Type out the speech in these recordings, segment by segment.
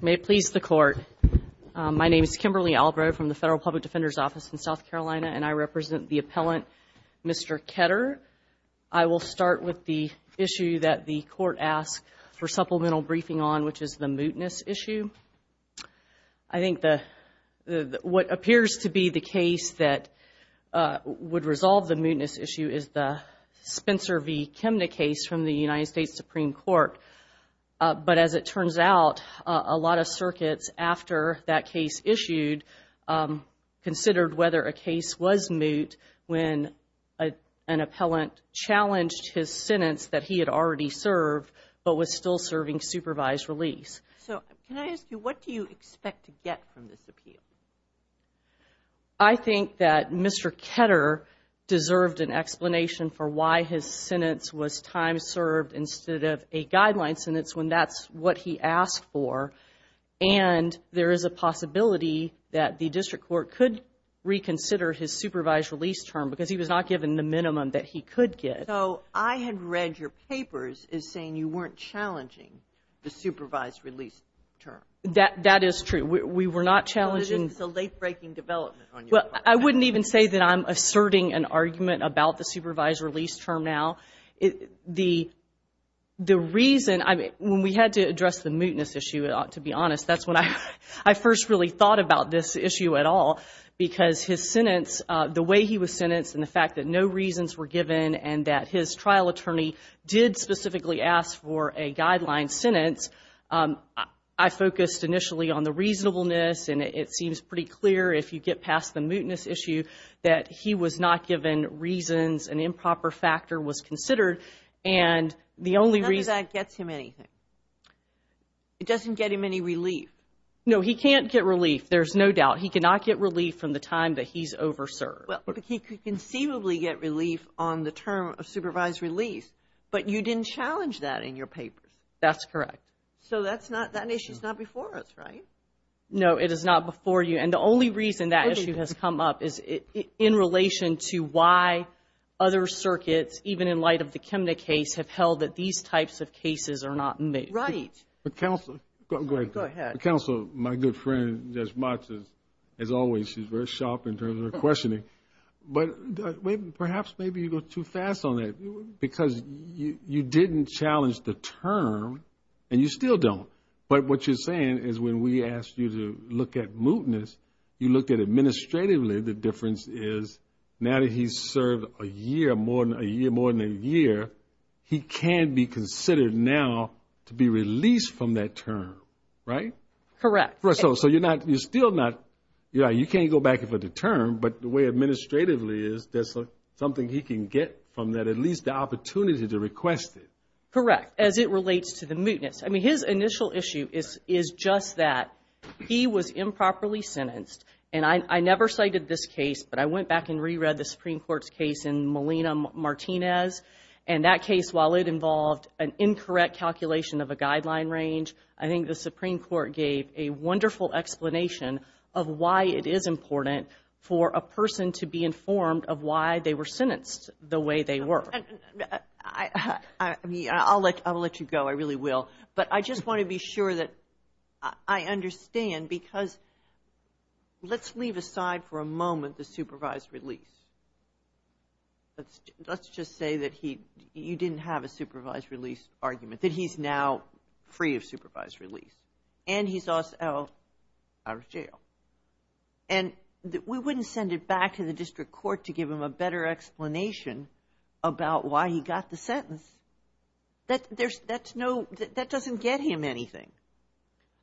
May it please the Court. My name is Kimberly Albrow from the Federal Public Defender's Office in South Carolina, and I represent the appellant Mr. Ketter. I will start with the issue that the Court asked for supplemental briefing on, which is the mootness issue. I think what appears to be the case that would resolve the mootness issue is the Spencer v. Kimna case from the United States Supreme Court. But as it turns out, a lot of circuits after that case issued considered whether a case was moot when an appellant challenged his sentence that he had already served but was still serving supervised release. So can I ask you, what do you expect to get from this appeal? I think that Mr. Ketter deserved an explanation for why his sentence was time served instead of a guideline sentence when that's what he asked for. And there is a possibility that the District Court could reconsider his supervised release term because he was not given the minimum that he could get. So I had read your papers as saying you weren't challenging the supervised release term. That is true. We were not challenging. But it is a late-breaking development on your part. Well, I wouldn't even say that I'm asserting an argument about the supervised release term now. The reason, I mean, when we had to address the mootness issue, to be honest, that's when I first really thought about this issue at all, because his sentence, the way he was sentenced and the fact that no reasons were given and that his trial attorney did specifically ask for a guideline sentence, I focused initially on the reasonableness, and it seems pretty clear if you get past the mootness issue that he was not given reasons, an improper factor was considered, and the only reason— None of that gets him anything. It doesn't get him any relief. No, he can't get relief, there's no doubt. He cannot get relief from the time that he's over-served. Well, he could conceivably get relief on the term of supervised release, but you didn't challenge that in your papers. That's correct. So that issue's not before us, right? No, it is not before you, and the only reason that issue has come up is in relation to why other circuits, even in light of the Kimna case, have held that these types of cases are not moot. Right. Counsel, my good friend, as much as always, she's very sharp in terms of her questioning, but perhaps maybe you go too fast on that because you didn't challenge the term, and you still don't, but what you're saying is when we asked you to look at mootness, you looked at administratively, the difference is now that he's served a year, more than a year, he can be considered now to be released from that term, right? Correct. So you're still not, you can't go back for the term, but the way administratively is, there's something he can get from that, at least the opportunity to request it. Correct, as it relates to the mootness. I mean, his initial issue is just that he was improperly sentenced, and I never cited this case, but I went back and reread the Supreme Court's case in Molina-Martinez, and that case, while it involved an incorrect calculation of a guideline range, I think the Supreme Court gave a wonderful explanation of why it is important for a person to be informed of why they were sentenced the way they were. I'll let you go, I really will, but I just want to be sure that I understand because let's leave aside for a moment the supervised release. Let's just say that you didn't have a supervised release argument, that he's now free of supervised release, and he's also out of jail. And we wouldn't send it back to the district court to give him a better explanation about why he got the sentence. That doesn't get him anything.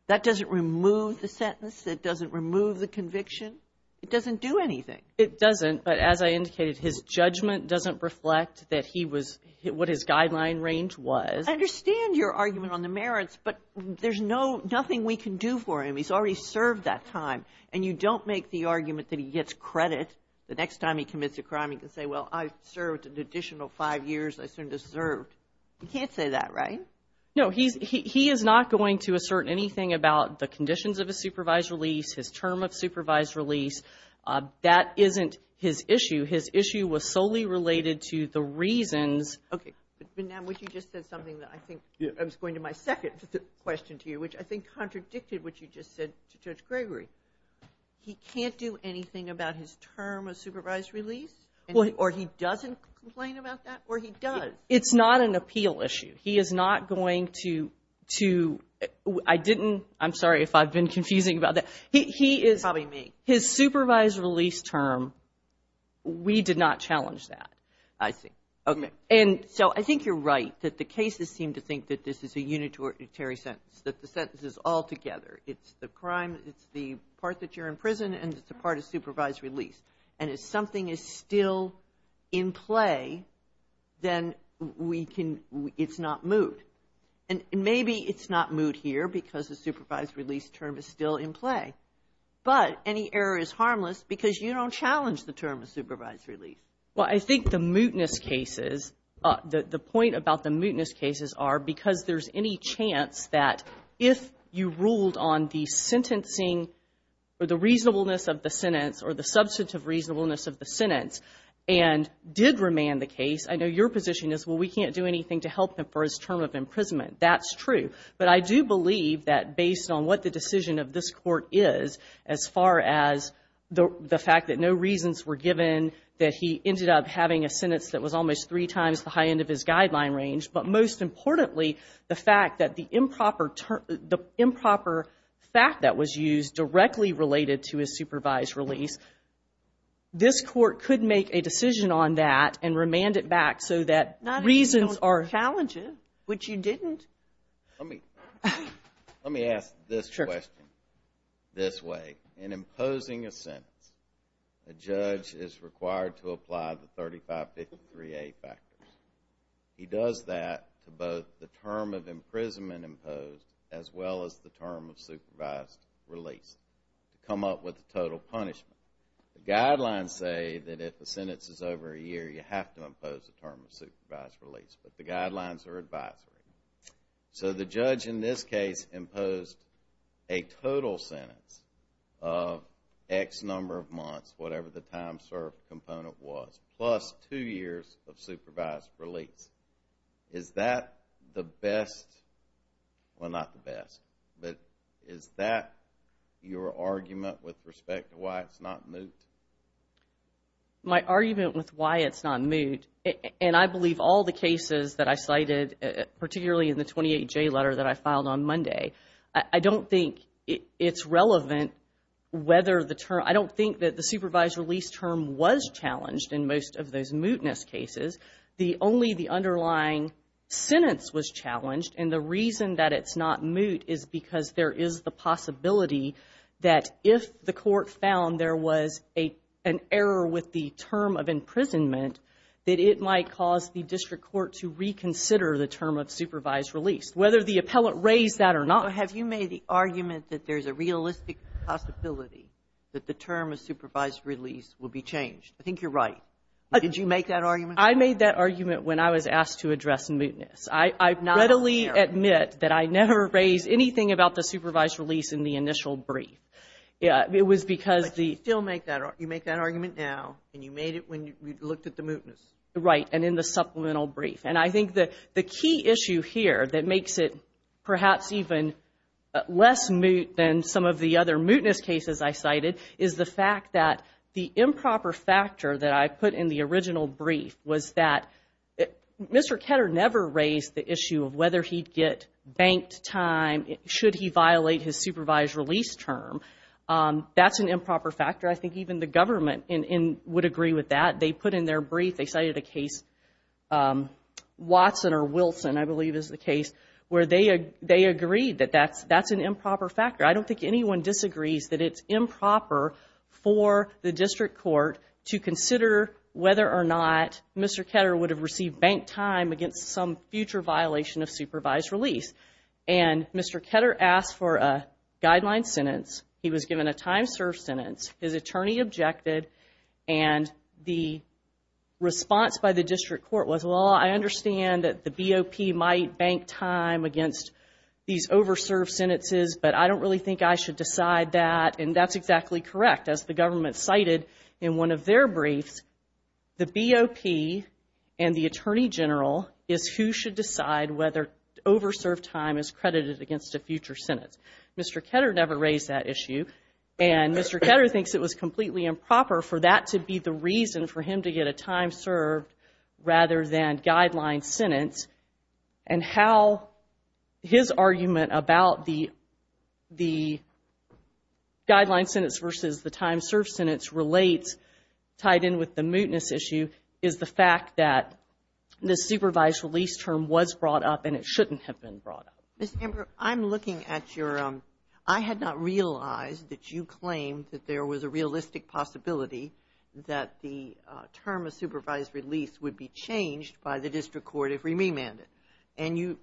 That doesn't remove the sentence. It doesn't remove the conviction. It doesn't do anything. It doesn't, but as I indicated, his judgment doesn't reflect what his guideline range was. I understand your argument on the merits, but there's nothing we can do for him. He's already served that time, and you don't make the argument that he gets credit. The next time he commits a crime, he can say, well, I served an additional five years. I certainly deserved. You can't say that, right? No. He is not going to assert anything about the conditions of a supervised release, his term of supervised release. That isn't his issue. His issue was solely related to the reasons. Okay. But, Ma'am, what you just said is something that I think was going to my second question to you, which I think contradicted what you just said to Judge Gregory. He can't do anything about his term of supervised release, or he doesn't complain about that, or he does? It's not an appeal issue. He is not going to – I didn't – I'm sorry if I've been confusing about that. He is – Probably me. His supervised release term, we did not challenge that. I see. Okay. And so I think you're right that the cases seem to think that this is a unitary sentence, that the sentence is all together. It's the crime, it's the part that you're in prison, and it's the part of supervised release. And if something is still in play, then we can – it's not moot. And maybe it's not moot here because the supervised release term is still in play. But any error is harmless because you don't challenge the term of supervised release. Well, I think the mootness cases – the point about the mootness cases are because there's any chance that if you ruled on the sentencing or the reasonableness of the sentence or the substantive reasonableness of the sentence and did remand the case, I know your position is, well, we can't do anything to help him for his term of imprisonment. That's true. But I do believe that based on what the decision of this Court is, as far as the fact that no reasons were given, that he ended up having a sentence that was almost three times the high end of his guideline range, but most importantly, the fact that the improper fact that was used directly related to his supervised release, this Court could make a decision on that and remand it back so that reasons are – Not if you don't challenge it, which you didn't. Let me ask this question this way. In imposing a sentence, a judge is required to apply the 3553A factors. He does that to both the term of imprisonment imposed as well as the term of supervised release to come up with the total punishment. The guidelines say that if the sentence is over a year, you have to impose the term of supervised release, but the guidelines are advisory. So the judge in this case imposed a total sentence of X number of months, whatever the time served component was, plus two years of supervised release. Is that the best – well, not the best, but is that your argument with respect to why it's not moot? My argument with why it's not moot, and I believe all the cases that I cited, particularly in the 28J letter that I filed on Monday, I don't think it's relevant whether the term – I don't think that the supervised release term was challenged in most of those mootness cases. Only the underlying sentence was challenged, and the reason that it's not moot is because there is the possibility that if the court found there was an error with the term of imprisonment, that it might cause the district court to reconsider the term of supervised release, whether the appellate raised that or not. But have you made the argument that there's a realistic possibility that the term of supervised release will be changed? I think you're right. Did you make that argument? I made that argument when I was asked to address mootness. I readily admit that I never raised anything about the supervised release in the initial brief. It was because the – But you still make that – you make that argument now, and you made it when you looked at the mootness. Right, and in the supplemental brief. And I think the key issue here that makes it perhaps even less moot than some of the other mootness cases I cited is the fact that the improper factor that I put in the original brief was that Mr. Ketter never raised the issue of whether he'd get banked time, should he violate his supervised release term. That's an improper factor. I think even the government would agree with that. They put in their brief, they cited a case, Watson or Wilson, I believe is the case, where they agreed that that's an improper factor. I don't think anyone disagrees that it's improper for the district court to consider whether or not Mr. Ketter would have received banked time against some future violation of supervised release. And Mr. Ketter asked for a guideline sentence. He was given a time-served sentence. His attorney objected, and the response by the district court was, well, I understand that the BOP might bank time against these over-served sentences, but I don't really think I should decide that. And that's exactly correct. As the government cited in one of their briefs, the BOP and the attorney general is who should decide whether over-served time is credited against a future sentence. Mr. Ketter never raised that issue, and Mr. Ketter thinks it was completely improper for that to be the reason for him to get a time-served rather than guideline sentence. And how his argument about the guideline sentence versus the time-served sentence relates, tied in with the mootness issue, is the fact that the supervised release term was brought up and it shouldn't have been brought up. Ms. Amber, I'm looking at your — I had not realized that you claimed that there was a realistic possibility that the term of supervised release would be changed by the district court if remanded. And you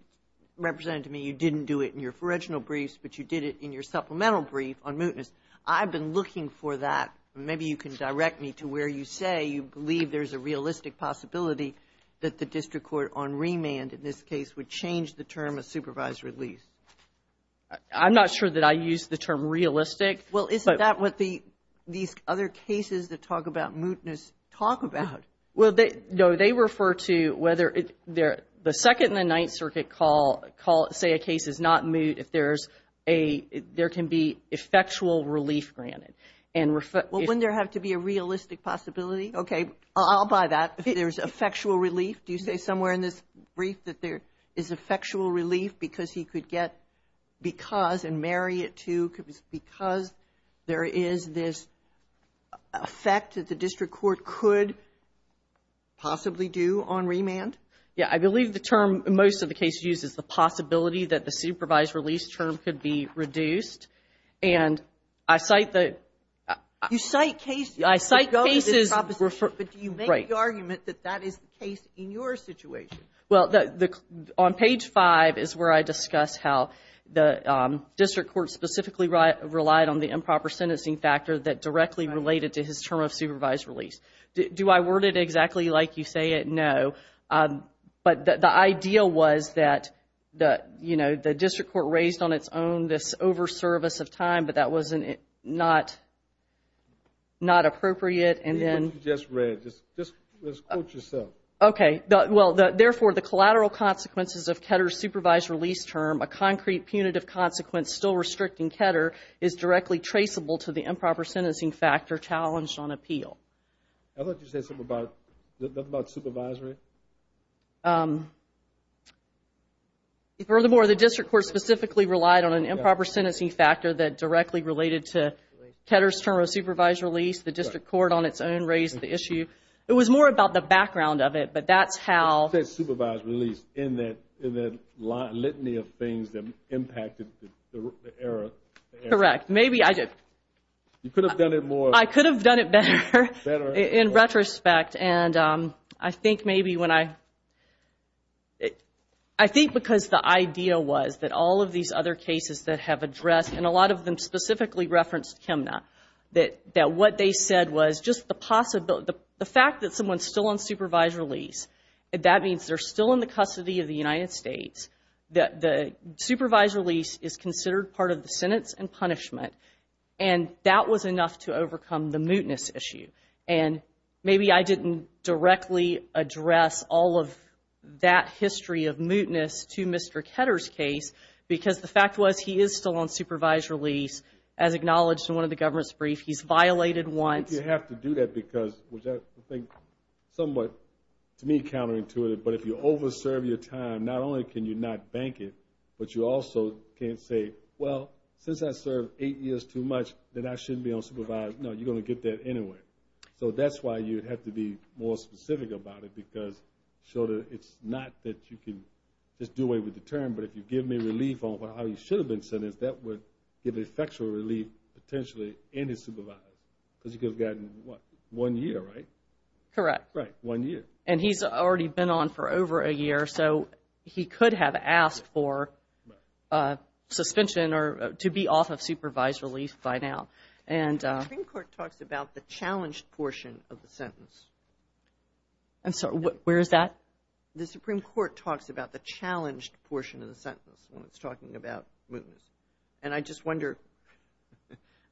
represented to me you didn't do it in your original briefs, but you did it in your supplemental brief on mootness. I've been looking for that. Maybe you can direct me to where you say you believe there's a realistic possibility that the district court on remand in this case would change the term of supervised release. I'm not sure that I used the term realistic. Well, isn't that what these other cases that talk about mootness talk about? Well, no. They refer to whether the Second and the Ninth Circuit say a case is not moot if there can be effectual relief granted. Well, wouldn't there have to be a realistic possibility? Okay, I'll buy that. If there's effectual relief, do you say somewhere in this brief that there is effectual relief because he could get because and marry it to because there is this effect that the district court could possibly do on remand? Yeah. I believe the term most of the cases use is the possibility that the supervised release term could be reduced. And I cite the – You cite cases – I cite cases – But you make the argument that that is the case in your situation. Well, on page 5 is where I discuss how the district court specifically relied on the improper sentencing factor that directly related to his term of supervised release. Do I word it exactly like you say it? No. But the idea was that, you know, the district court raised on its own this over-service of time, but that was not appropriate and then – What you just read. Just quote yourself. Okay. Well, therefore, the collateral consequences of Ketter's supervised release term, a concrete punitive consequence still restricting Ketter, is directly traceable to the improper sentencing factor challenged on appeal. I thought you said something about supervisory. Furthermore, the district court specifically relied on an improper sentencing factor that directly related to Ketter's term of supervised release. The district court on its own raised the issue. It was more about the background of it, but that's how – In the litany of things that impacted the error. Correct. Maybe I did. You could have done it more. I could have done it better. Better. In retrospect, and I think maybe when I – I think because the idea was that all of these other cases that have addressed, and a lot of them specifically referenced Kemna, that what they said was just the possibility, the fact that someone's still on supervised release, that means they're still in the custody of the United States, that the supervised release is considered part of the sentence and punishment, and that was enough to overcome the mootness issue. And maybe I didn't directly address all of that history of mootness to Mr. Ketter's case because the fact was he is still on supervised release, as acknowledged in one of the government's briefs. He's violated once. I think you have to do that because, which I think somewhat, to me, counterintuitive, but if you over-serve your time, not only can you not bank it, but you also can't say, well, since I served eight years too much, then I shouldn't be on supervised. No, you're going to get that anyway. So that's why you have to be more specific about it because it's not that you can just do away with the term, but if you give me relief on how he should have been sentenced, that would give effectual relief potentially in his supervising because he could have gotten, what, one year, right? Correct. Right, one year. And he's already been on for over a year, so he could have asked for suspension or to be off of supervised relief by now. The Supreme Court talks about the challenged portion of the sentence. I'm sorry, where is that? The Supreme Court talks about the challenged portion of the sentence when it's talking about mootness, and I just wonder,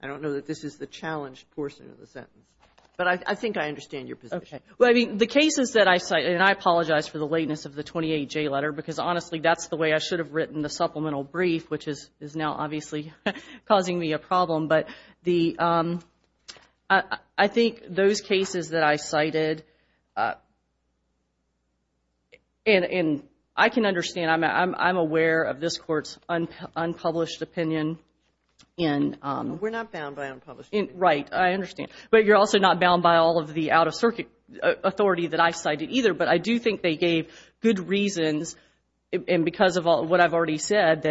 I don't know that this is the challenged portion of the sentence, but I think I understand your position. Well, I mean, the cases that I cite, and I apologize for the lateness of the 28J letter because, honestly, that's the way I should have written the supplemental brief, which is now obviously causing me a problem, but I think those cases that I cited, and I can understand, I mean, I'm aware of this Court's unpublished opinion. We're not bound by unpublished opinion. Right, I understand. But you're also not bound by all of the out-of-circuit authority that I cited either, but I do think they gave good reasons, and because of what I've already said,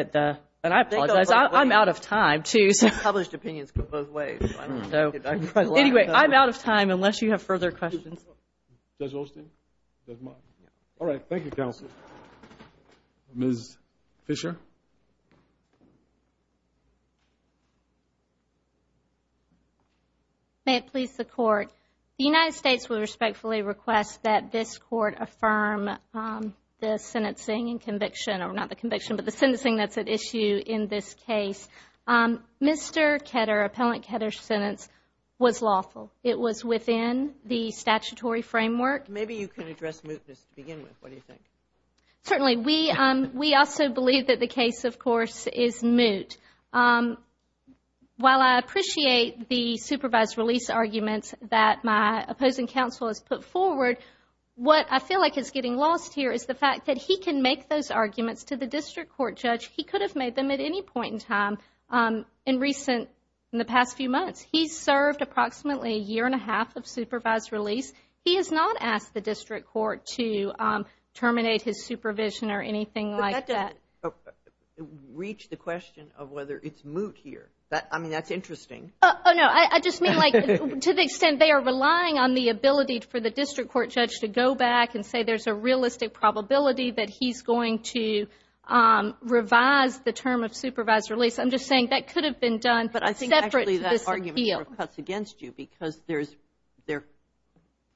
and I apologize, I'm out of time too. Published opinions go both ways. Anyway, I'm out of time unless you have further questions. Does Austin? All right, thank you, Counsel. Ms. Fisher? May it please the Court, the United States would respectfully request that this Court affirm the sentencing and conviction, or not the conviction, but the sentencing that's at issue in this case. Mr. Ketter, Appellant Ketter's sentence was lawful. It was within the statutory framework. Maybe you can address mootness to begin with. What do you think? Certainly. We also believe that the case, of course, is moot. While I appreciate the supervised release arguments that my opposing counsel has put forward, what I feel like is getting lost here is the fact that he can make those arguments to the district court judge. He could have made them at any point in time in the past few months. He served approximately a year and a half of supervised release. He has not asked the district court to terminate his supervision or anything like that. But that doesn't reach the question of whether it's moot here. I mean, that's interesting. Oh, no. I just mean like to the extent they are relying on the ability for the district court judge to go back and say there's a realistic probability that he's going to revise the term of supervised release. I'm just saying that could have been done separate to this appeal. But I think actually that argument sort of cuts against you because there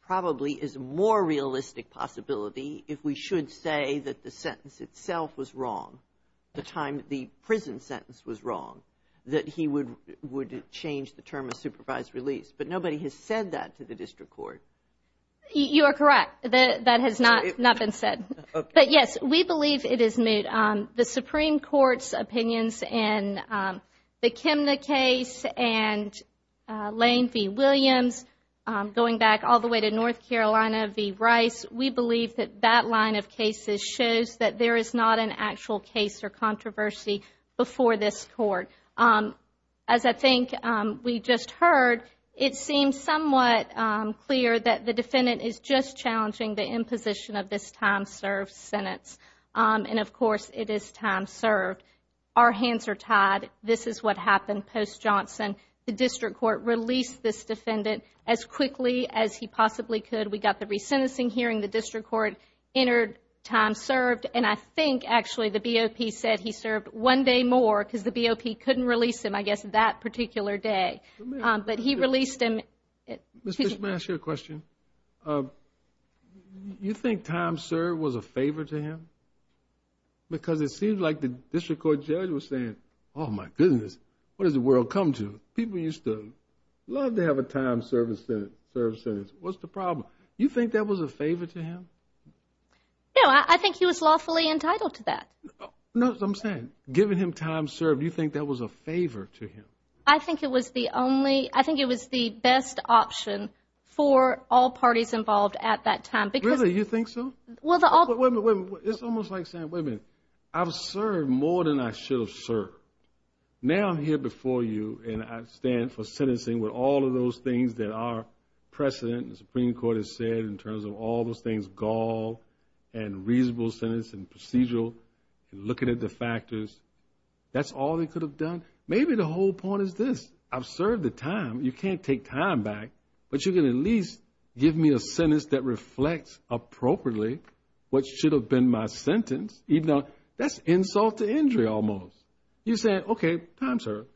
probably is a more realistic possibility if we should say that the sentence itself was wrong, the time the prison sentence was wrong, that he would change the term of supervised release. But nobody has said that to the district court. You are correct. That has not been said. But, yes, we believe it is moot. The Supreme Court's opinions in the Kimna case and Lane v. Williams, going back all the way to North Carolina v. Rice, we believe that that line of cases shows that there is not an actual case or controversy before this court. As I think we just heard, it seems somewhat clear that the defendant is just challenging the imposition of this time-served sentence. And, of course, it is time served. Our hands are tied. This is what happened post-Johnson. The district court released this defendant as quickly as he possibly could. We got the resentencing hearing. The district court entered time served. And I think, actually, the BOP said he served one day more because the BOP couldn't release him, I guess, that particular day. But he released him. Ms. Fisher, may I ask you a question? You think time served was a favor to him? Because it seems like the district court judge was saying, oh, my goodness, what has the world come to? People used to love to have a time-served sentence. What's the problem? You think that was a favor to him? No, I think he was lawfully entitled to that. No, what I'm saying, giving him time served, you think that was a favor to him? I think it was the best option for all parties involved at that time. Really, you think so? It's almost like saying, wait a minute, I've served more than I should have served. Now I'm here before you and I stand for sentencing with all of those things that our precedent and the Supreme Court has said in terms of all those things, gall and reasonable sentence and procedural and looking at the factors. That's all they could have done? Maybe the whole point is this. I've served the time. You can't take time back, but you can at least give me a sentence that reflects appropriately what should have been my sentence. That's insult to injury almost. You say, okay, time served.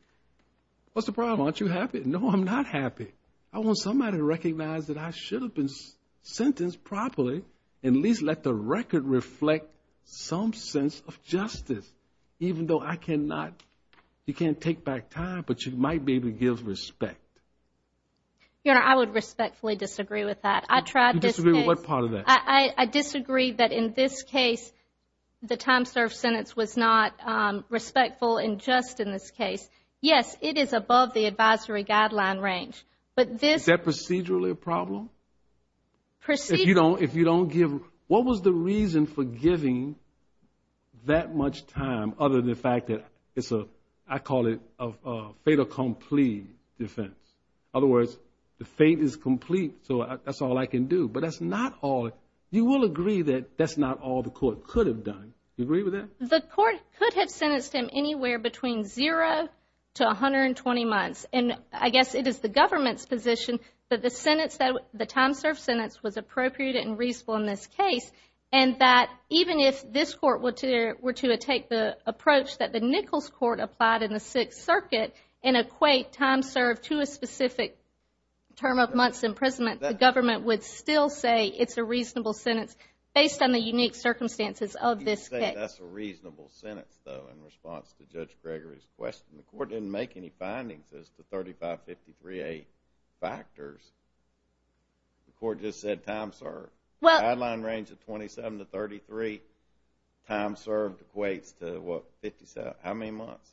What's the problem? Aren't you happy? No, I'm not happy. I want somebody to recognize that I should have been sentenced properly and at least let the record reflect some sense of justice. Even though I cannot, you can't take back time, but you might be able to give respect. Your Honor, I would respectfully disagree with that. You disagree with what part of that? I disagree that in this case the time served sentence was not respectful and just in this case. Yes, it is above the advisory guideline range. Is that procedurally a problem? Procedurally. If you don't give, what was the reason for giving that much time other than the fact that it's a, I call it a fait accompli defense. In other words, the fate is complete, so that's all I can do. But that's not all. You will agree that that's not all the court could have done. Do you agree with that? The court could have sentenced him anywhere between zero to 120 months. And I guess it is the government's position that the sentence, the time served sentence, was appropriate and reasonable in this case, and that even if this Court were to take the approach that the Nichols Court applied in the Sixth Circuit and equate time served to a specific term of months imprisonment, the government would still say it's a reasonable sentence based on the unique circumstances of this case. You can say that's a reasonable sentence, though, in response to Judge Gregory's question. The court didn't make any findings as to 3553A factors. The court just said time served. The timeline range of 27 to 33, time served equates to what, 57, how many months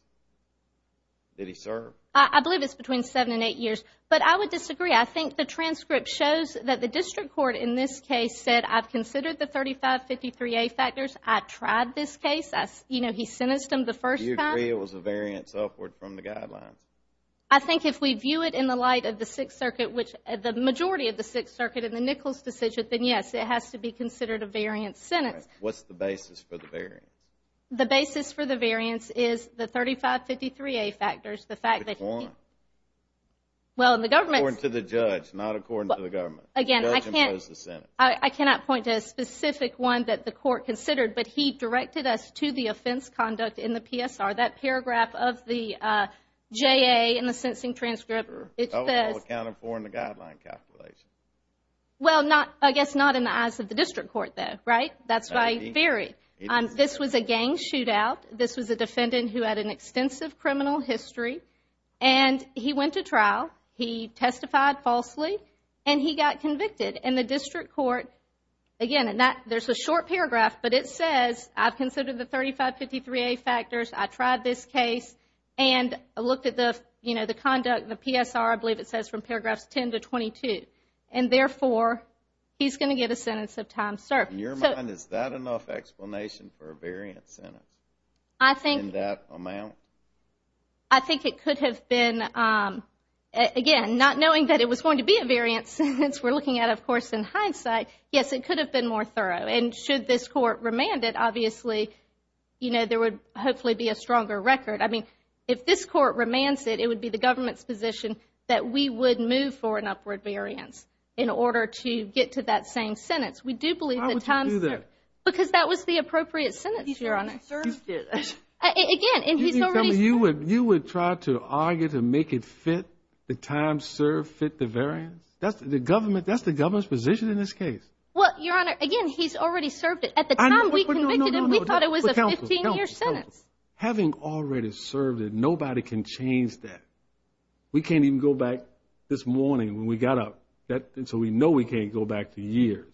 did he serve? I believe it's between seven and eight years. But I would disagree. I think the transcript shows that the district court in this case said, I've considered the 3553A factors. I've tried this case. You know, he sentenced him the first time. I agree it was a variance upward from the guidelines. I think if we view it in the light of the Sixth Circuit, which the majority of the Sixth Circuit in the Nichols decision, then yes, it has to be considered a variance sentence. All right. What's the basis for the variance? The basis for the variance is the 3553A factors, the fact that he— Which one? Well, in the government— According to the judge, not according to the government. Again, I can't— The judge imposed the sentence. I cannot point to a specific one that the court considered, but he directed us to the offense conduct in the PSR, that paragraph of the JA in the sentencing transcript. Oh, all accounted for in the guideline calculation. Well, I guess not in the eyes of the district court, though, right? That's my theory. This was a gang shootout. This was a defendant who had an extensive criminal history, and he went to trial. He testified falsely, and he got convicted. And the district court, again, there's a short paragraph, but it says I've considered the 3553A factors, I tried this case, and I looked at the conduct in the PSR. I believe it says from paragraphs 10 to 22. And, therefore, he's going to get a sentence of time served. In your mind, is that enough explanation for a variance sentence in that amount? I think it could have been. Again, not knowing that it was going to be a variance sentence, we're looking at it, of course, in hindsight. Yes, it could have been more thorough. And should this court remand it, obviously, you know, there would hopefully be a stronger record. I mean, if this court remands it, it would be the government's position that we would move for an upward variance in order to get to that same sentence. We do believe the time served. Why would you do that? Because that was the appropriate sentence, Your Honor. You would try to argue to make it fit the time served, fit the variance? That's the government's position in this case. Well, Your Honor, again, he's already served it. At the time we convicted him, we thought it was a 15-year sentence. Having already served it, nobody can change that. We can't even go back this morning when we got up, so we know we can't go back to years.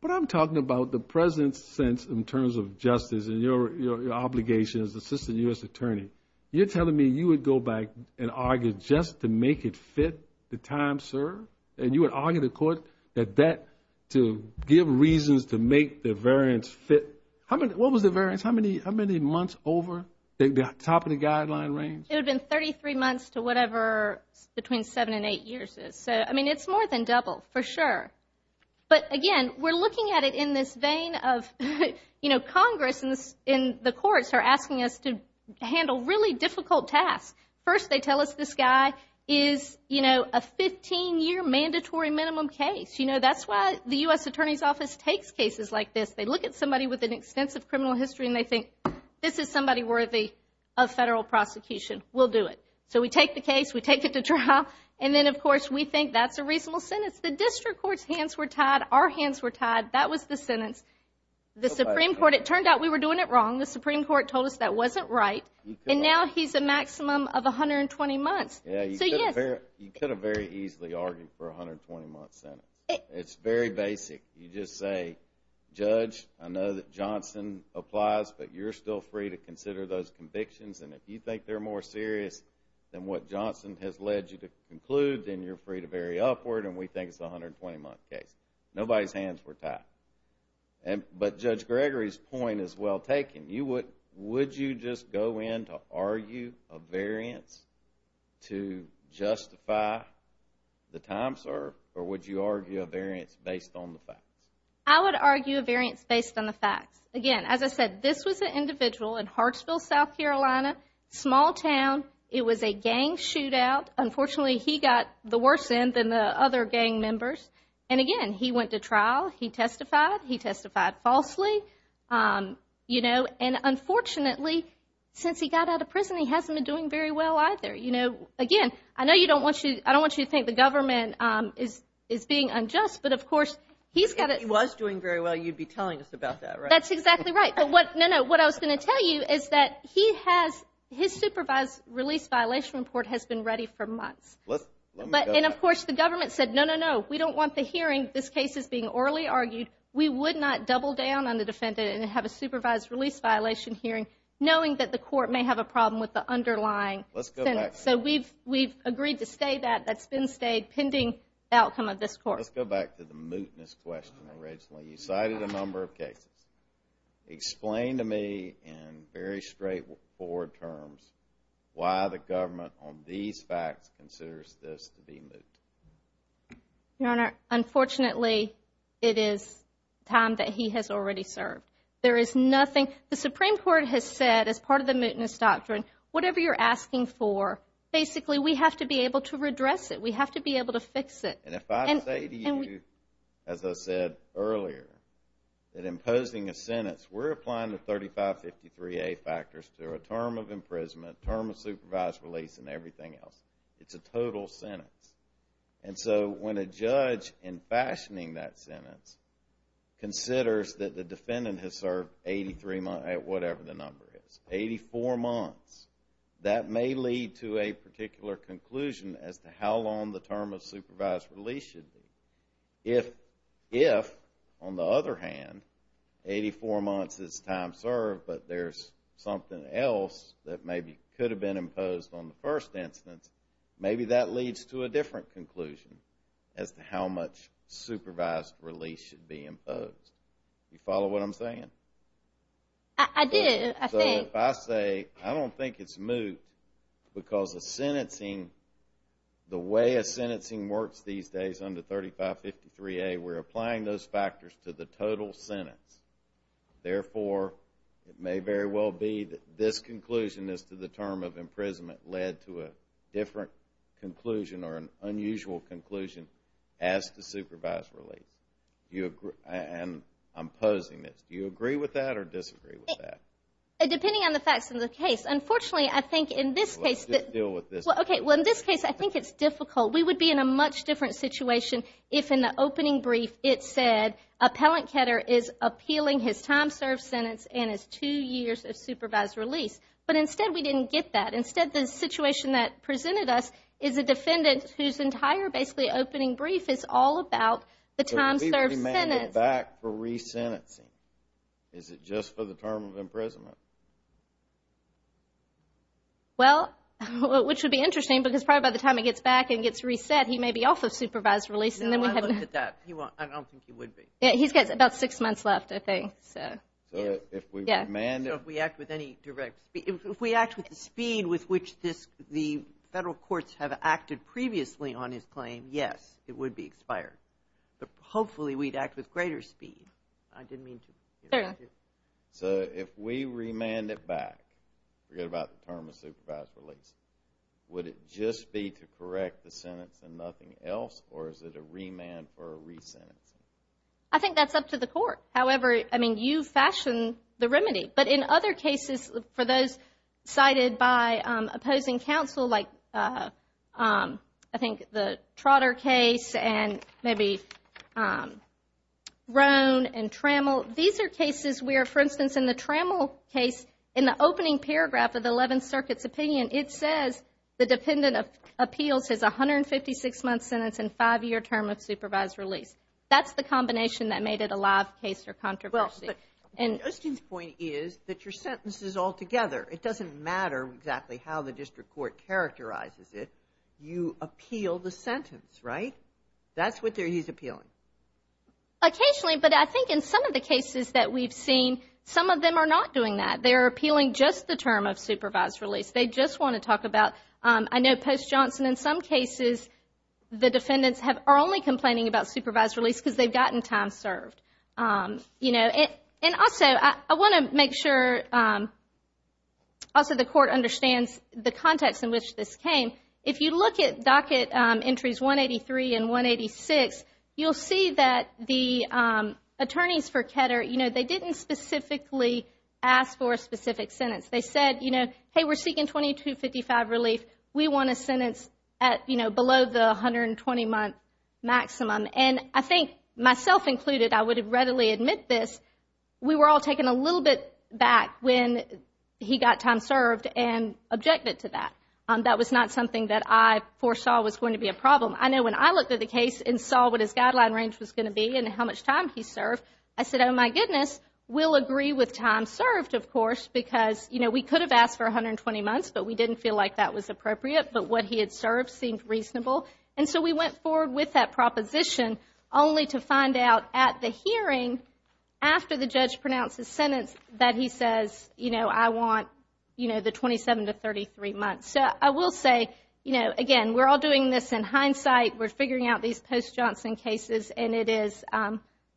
But I'm talking about the President's sense in terms of justice and your obligation as Assistant U.S. Attorney. You're telling me you would go back and argue just to make it fit the time served? And you would argue to the court that that to give reasons to make the variance fit? What was the variance? How many months over the top of the guideline range? It would have been 33 months to whatever between seven and eight years. So, I mean, it's more than double for sure. But, again, we're looking at it in this vein of, you know, Congress and the courts are asking us to handle really difficult tasks. First, they tell us this guy is, you know, a 15-year mandatory minimum case. You know, that's why the U.S. Attorney's Office takes cases like this. They look at somebody with an extensive criminal history, and they think this is somebody worthy of federal prosecution. We'll do it. So we take the case. We take it to trial. And then, of course, we think that's a reasonable sentence. The district court's hands were tied. Our hands were tied. That was the sentence. The Supreme Court, it turned out we were doing it wrong. The Supreme Court told us that wasn't right. And now he's a maximum of 120 months. So, yes. You could have very easily argued for a 120-month sentence. It's very basic. You just say, Judge, I know that Johnson applies, but you're still free to consider those convictions. And if you think they're more serious than what Johnson has led you to conclude, then you're free to vary upward, and we think it's a 120-month case. Nobody's hands were tied. But Judge Gregory's point is well taken. Would you just go in to argue a variance to justify the time served, or would you argue a variance based on the facts? I would argue a variance based on the facts. Again, as I said, this was an individual in Hartsville, South Carolina, small town. It was a gang shootout. Unfortunately, he got the worse end than the other gang members. And, again, he went to trial. He testified. He testified falsely. And, unfortunately, since he got out of prison, he hasn't been doing very well either. Again, I don't want you to think the government is being unjust, but, of course, he's got to – If he was doing very well, you'd be telling us about that, right? That's exactly right. No, no. What I was going to tell you is that his supervised release violation report has been ready for months. And, of course, the government said, no, no, no, we don't want the hearing. This case is being orally argued. We would not double down on the defendant and have a supervised release violation hearing knowing that the court may have a problem with the underlying sentence. So we've agreed to stay that. That's been stayed pending outcome of this court. Let's go back to the mootness question originally. You cited a number of cases. Explain to me in very straightforward terms why the government on these facts considers this to be moot. Your Honor, unfortunately, it is time that he has already served. There is nothing – The Supreme Court has said, as part of the mootness doctrine, whatever you're asking for, basically, we have to be able to redress it. We have to be able to fix it. And if I say to you, as I said earlier, that imposing a sentence – we're applying the 3553A factors to a term of imprisonment, term of supervised release, and everything else. It's a total sentence. And so when a judge, in fashioning that sentence, considers that the defendant has served 83 months – whatever the number is – 84 months, that may lead to a particular conclusion as to how long the term of supervised release should be. If, on the other hand, 84 months is time served but there's something else that maybe could have been imposed on the first instance, maybe that leads to a different conclusion as to how much supervised release should be imposed. Do you follow what I'm saying? I do. I think – So if I say, I don't think it's moot because the sentencing – the way a sentencing works these days under 3553A, we're applying those factors to the total sentence. Therefore, it may very well be that this conclusion as to the term of imprisonment led to a different conclusion or an unusual conclusion as to supervised release. And I'm posing this. Do you agree with that or disagree with that? Depending on the facts of the case. Unfortunately, I think in this case – Just deal with this. Okay. Well, in this case, I think it's difficult. We would be in a much different situation if in the opening brief it said, Appellant Ketter is appealing his time served sentence and his two years of supervised release. But instead, we didn't get that. Instead, the situation that presented us is a defendant whose entire basically opening brief is all about the time served sentence. So he may get back for resentencing. Is it just for the term of imprisonment? Well, which would be interesting because probably by the time he gets back and gets reset, he may be off of supervised release. No, I looked at that. I don't think he would be. He's got about six months left, I think. So if we act with the speed with which the federal courts have acted previously on his claim, yes, it would be expired. But hopefully, we'd act with greater speed. I didn't mean to – So if we remand it back, forget about the term of supervised release, would it just be to correct the sentence and nothing else, or is it a remand or a resentencing? I think that's up to the court. However, I mean, you fashion the remedy. But in other cases, for those cited by opposing counsel, like I think the Trotter case and maybe Roan and Trammell, these are cases where, for instance, in the Trammell case, in the opening paragraph of the Eleventh Circuit's opinion, it says the dependent appeals his 156-month sentence and five-year term of supervised release. That's the combination that made it a live case or controversy. Well, but Justin's point is that your sentence is altogether. It doesn't matter exactly how the district court characterizes it. You appeal the sentence, right? That's what he's appealing. Occasionally, but I think in some of the cases that we've seen, some of them are not doing that. They're appealing just the term of supervised release. They just want to talk about, I know Post-Johnson, in some cases, the defendants are only complaining about supervised release because they've gotten time served. And also, I want to make sure also the court understands the context in which this came. If you look at docket entries 183 and 186, you'll see that the attorneys for Ketter, they didn't specifically ask for a specific sentence. They said, you know, hey, we're seeking 2255 relief. We want a sentence below the 120-month maximum. And I think myself included, I would readily admit this, we were all taken a little bit back when he got time served and objected to that. That was not something that I foresaw was going to be a problem. I know when I looked at the case and saw what his guideline range was going to be and how much time he served, I said, oh, my goodness, we'll agree with time served, of course, because, you know, we could have asked for 120 months, but we didn't feel like that was appropriate, but what he had served seemed reasonable. And so we went forward with that proposition, only to find out at the hearing, after the judge pronounced his sentence, that he says, you know, I want, you know, the 27 to 33 months. So I will say, you know, again, we're all doing this in hindsight. We're figuring out these Post-Johnson cases, and it is –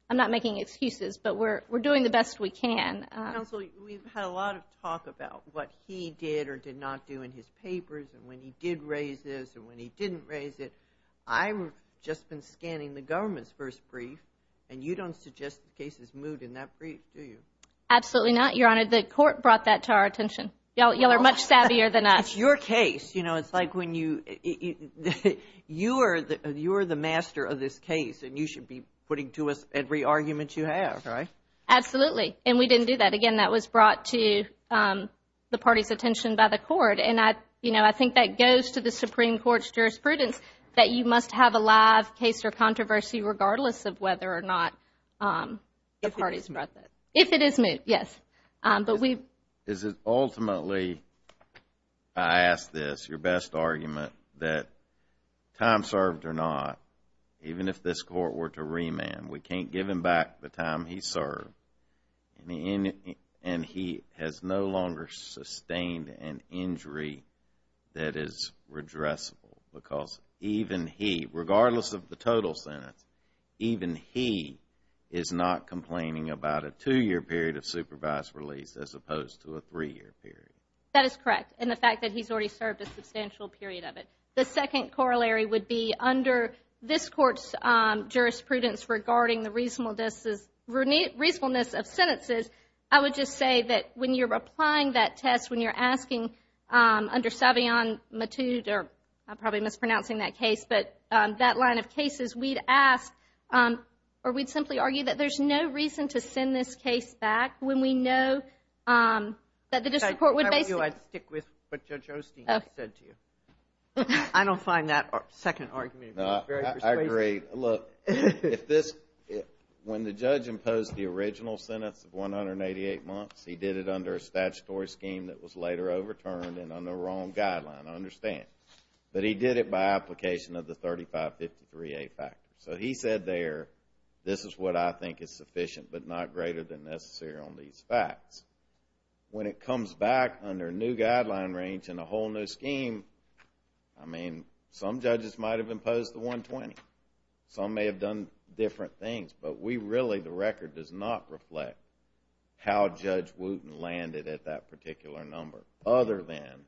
I'm not making excuses, but we're doing the best we can. Counsel, we've had a lot of talk about what he did or did not do in his papers and when he did raise this and when he didn't raise it. I've just been scanning the government's first brief, and you don't suggest the case is moot in that brief, do you? Absolutely not, Your Honor. The court brought that to our attention. Y'all are much savvier than us. It's your case. You know, it's like when you – you're the master of this case, and you should be putting to us every argument you have, right? Absolutely, and we didn't do that. Again, that was brought to the party's attention by the court, and I think that goes to the Supreme Court's jurisprudence that you must have a live case or controversy regardless of whether or not the party's brought that. If it is moot. If it is moot, yes. But we've – Is it ultimately, I ask this, your best argument, that time served or not, even if this court were to remand, we can't give him back the time he served, and he has no longer sustained an injury that is redressable because even he, regardless of the total sentence, even he is not complaining about a two-year period of supervised release as opposed to a three-year period. That is correct, and the fact that he's already served a substantial period of it. The second corollary would be under this court's jurisprudence regarding the reasonableness of sentences, I would just say that when you're applying that test, when you're asking under Savion Matute, or I'm probably mispronouncing that case, but that line of cases, we'd ask or we'd simply argue that there's no reason to send this case back when we know that the district court would basically – If I were you, I'd stick with what Judge Osteen said to you. I don't find that second argument very persuasive. I agree. Look, when the judge imposed the original sentence of 188 months, he did it under a statutory scheme that was later overturned and under a wrong guideline, I understand, but he did it by application of the 3553A factor. So he said there, this is what I think is sufficient but not greater than necessary on these facts. When it comes back under a new guideline range and a whole new scheme, I mean, some judges might have imposed the 120. Some may have done different things, but we really – the record does not reflect how Judge Wooten landed at that particular number other than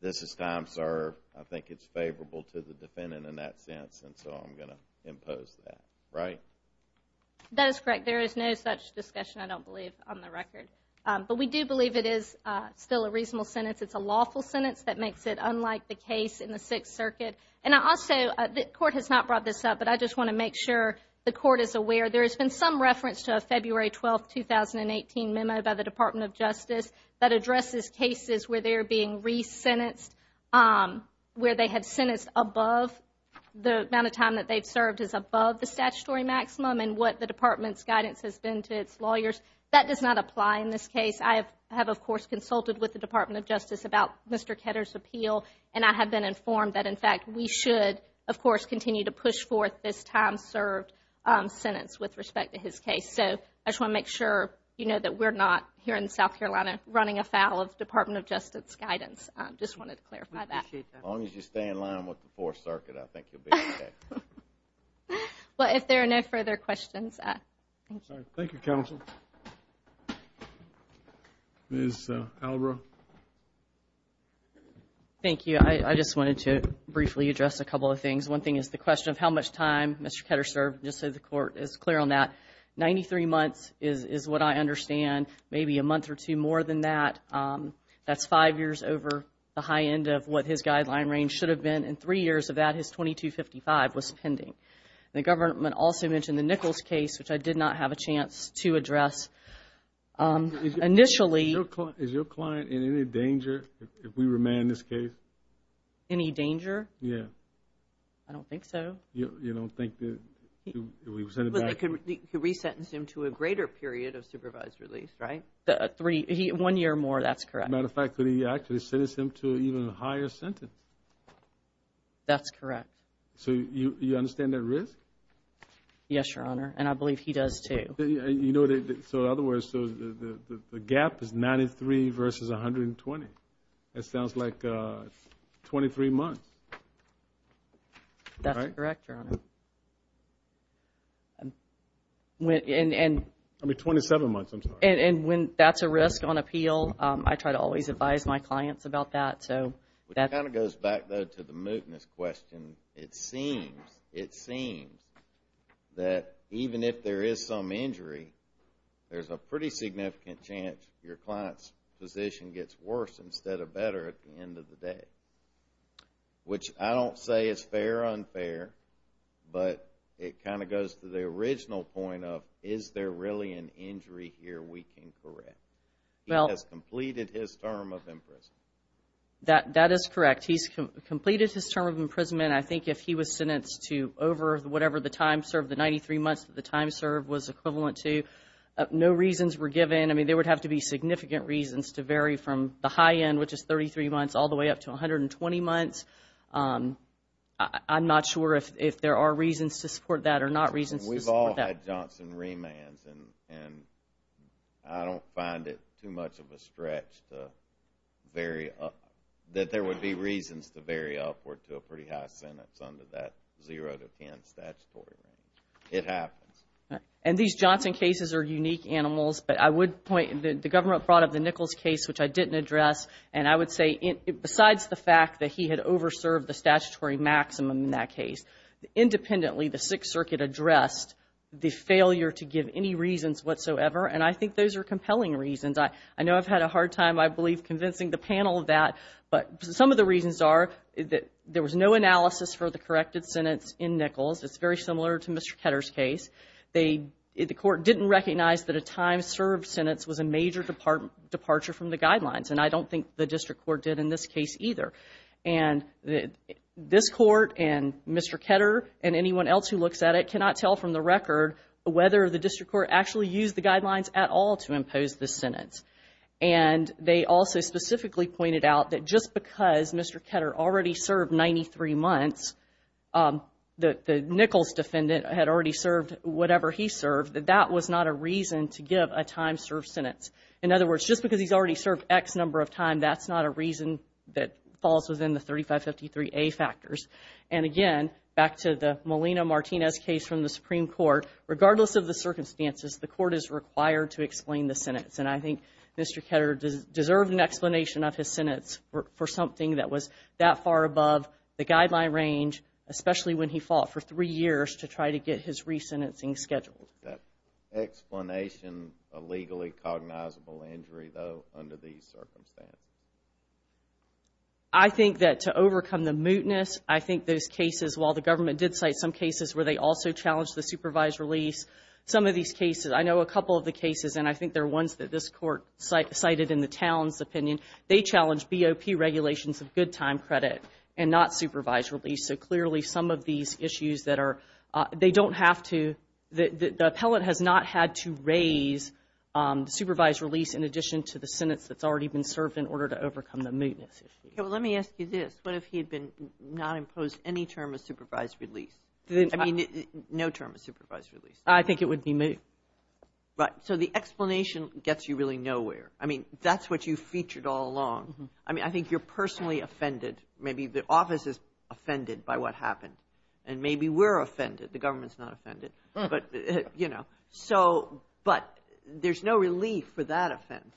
this is time served. I think it's favorable to the defendant in that sense, and so I'm going to impose that, right? That is correct. There is no such discussion, I don't believe, on the record. But we do believe it is still a reasonable sentence. It's a lawful sentence that makes it unlike the case in the Sixth Circuit. And also, the court has not brought this up, but I just want to make sure the court is aware. There has been some reference to a February 12, 2018 memo by the Department of Justice that addresses cases where they're being re-sentenced, where they have sentenced above – the amount of time that they've served is above the statutory maximum and what the Department's guidance has been to its lawyers. That does not apply in this case. I have, of course, consulted with the Department of Justice about Mr. Ketter's appeal, and I have been informed that, in fact, we should, of course, continue to push forth this time served sentence with respect to his case. So I just want to make sure you know that we're not here in South Carolina running afoul of the Department of Justice's guidance. I just wanted to clarify that. We appreciate that. As long as you stay in line with the Fourth Circuit, I think you'll be okay. Well, if there are no further questions. Thank you, counsel. Ms. Albra. Thank you. I just wanted to briefly address a couple of things. One thing is the question of how much time Mr. Ketter served, just so the court is clear on that. Ninety-three months is what I understand, maybe a month or two more than that. That's five years over the high end of what his guideline range should have been, and three years of that, his 2255 was pending. The government also mentioned the Nichols case, which I did not have a chance to address initially. Is your client in any danger if we remand this case? Any danger? Yes. I don't think so. You don't think that we would send him back? But they could resentence him to a greater period of supervised release, right? One year or more, that's correct. As a matter of fact, could he actually sentence him to an even higher sentence? That's correct. So you understand that risk? Yes, Your Honor, and I believe he does too. So in other words, the gap is 93 versus 120. That sounds like 23 months. That's correct, Your Honor. I mean, 27 months, I'm sorry. And when that's a risk on appeal, I try to always advise my clients about that. It kind of goes back, though, to the mootness question. It seems that even if there is some injury, there's a pretty significant chance your client's position gets worse instead of better at the end of the day, which I don't say is fair or unfair, but it kind of goes to the original point of, is there really an injury here we can correct? He has completed his term of imprisonment. That is correct. He's completed his term of imprisonment. I think if he was sentenced to over whatever the time served, the 93 months that the time served was equivalent to, no reasons were given. I mean, there would have to be significant reasons to vary from the high end, which is 33 months, all the way up to 120 months. I'm not sure if there are reasons to support that or not reasons to support that. We've all had Johnson remands, and I don't find it too much of a stretch that there would be reasons to vary upward to a pretty high sentence under that 0 to 10 statutory range. It happens. And these Johnson cases are unique animals, but I would point, the government brought up the Nichols case, which I didn't address, and I would say besides the fact that he had over-served the statutory maximum in that case, independently the Sixth Circuit addressed the failure to give any reasons whatsoever, and I think those are compelling reasons. I know I've had a hard time, I believe, convincing the panel of that, but some of the reasons are that there was no analysis for the corrected sentence in Nichols. It's very similar to Mr. Ketter's case. The court didn't recognize that a time served sentence was a major departure from the guidelines, and I don't think the district court did in this case either. And this court and Mr. Ketter and anyone else who looks at it cannot tell from the record whether the district court actually used the guidelines at all to impose this sentence. And they also specifically pointed out that just because Mr. Ketter already served 93 months, the Nichols defendant had already served whatever he served, that that was not a reason to give a time served sentence. In other words, just because he's already served X number of times, that's not a reason that falls within the 3553A factors. And again, back to the Molina-Martinez case from the Supreme Court, regardless of the circumstances, the court is required to explain the sentence, and I think Mr. Ketter deserved an explanation of his sentence for something that was that far above the guideline range, especially when he fought for three years to try to get his re-sentencing scheduled. Is that explanation a legally cognizable injury, though, under these circumstances? I think that to overcome the mootness, I think those cases, while the government did cite some cases where they also challenged the supervised release, some of these cases, I know a couple of the cases, and I think they're ones that this court cited in the town's opinion, they challenged BOP regulations of good time credit and not supervised release. So clearly some of these issues that are, they don't have to, the appellate has not had to raise supervised release in addition to the sentence that's already been served in order to overcome the mootness. Let me ask you this. What if he had not imposed any term of supervised release? I mean, no term of supervised release. I think it would be moot. Right. So the explanation gets you really nowhere. I mean, that's what you featured all along. I mean, I think you're personally offended. Maybe the office is offended by what happened. And maybe we're offended. The government's not offended. But, you know, so, but there's no relief for that offense.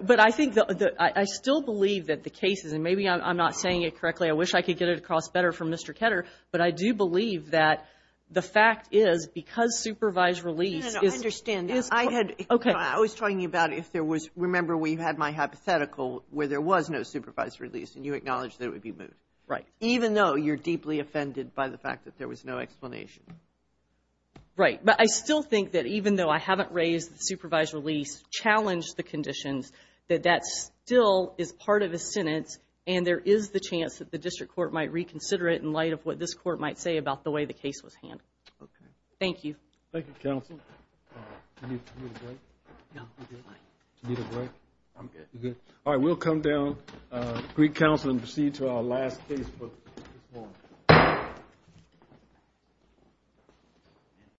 But I think, I still believe that the cases, and maybe I'm not saying it correctly. I wish I could get it across better from Mr. Ketter, but I do believe that the fact is because supervised release is. No, no, no, I understand. I had, I was talking about if there was, remember, where you had my hypothetical where there was no supervised release and you acknowledged that it would be moot. Right. Even though you're deeply offended by the fact that there was no explanation. Right. But I still think that even though I haven't raised the supervised release, challenged the conditions, that that still is part of a sentence and there is the chance that the district court might reconsider it in light of what this court might say about the way the case was handled. Okay. Thank you. Thank you, counsel. Do you need a break? No. Do you need a break? I'm good. You're good. All right. We'll come down, Greek counsel, and proceed to our last case for this morning.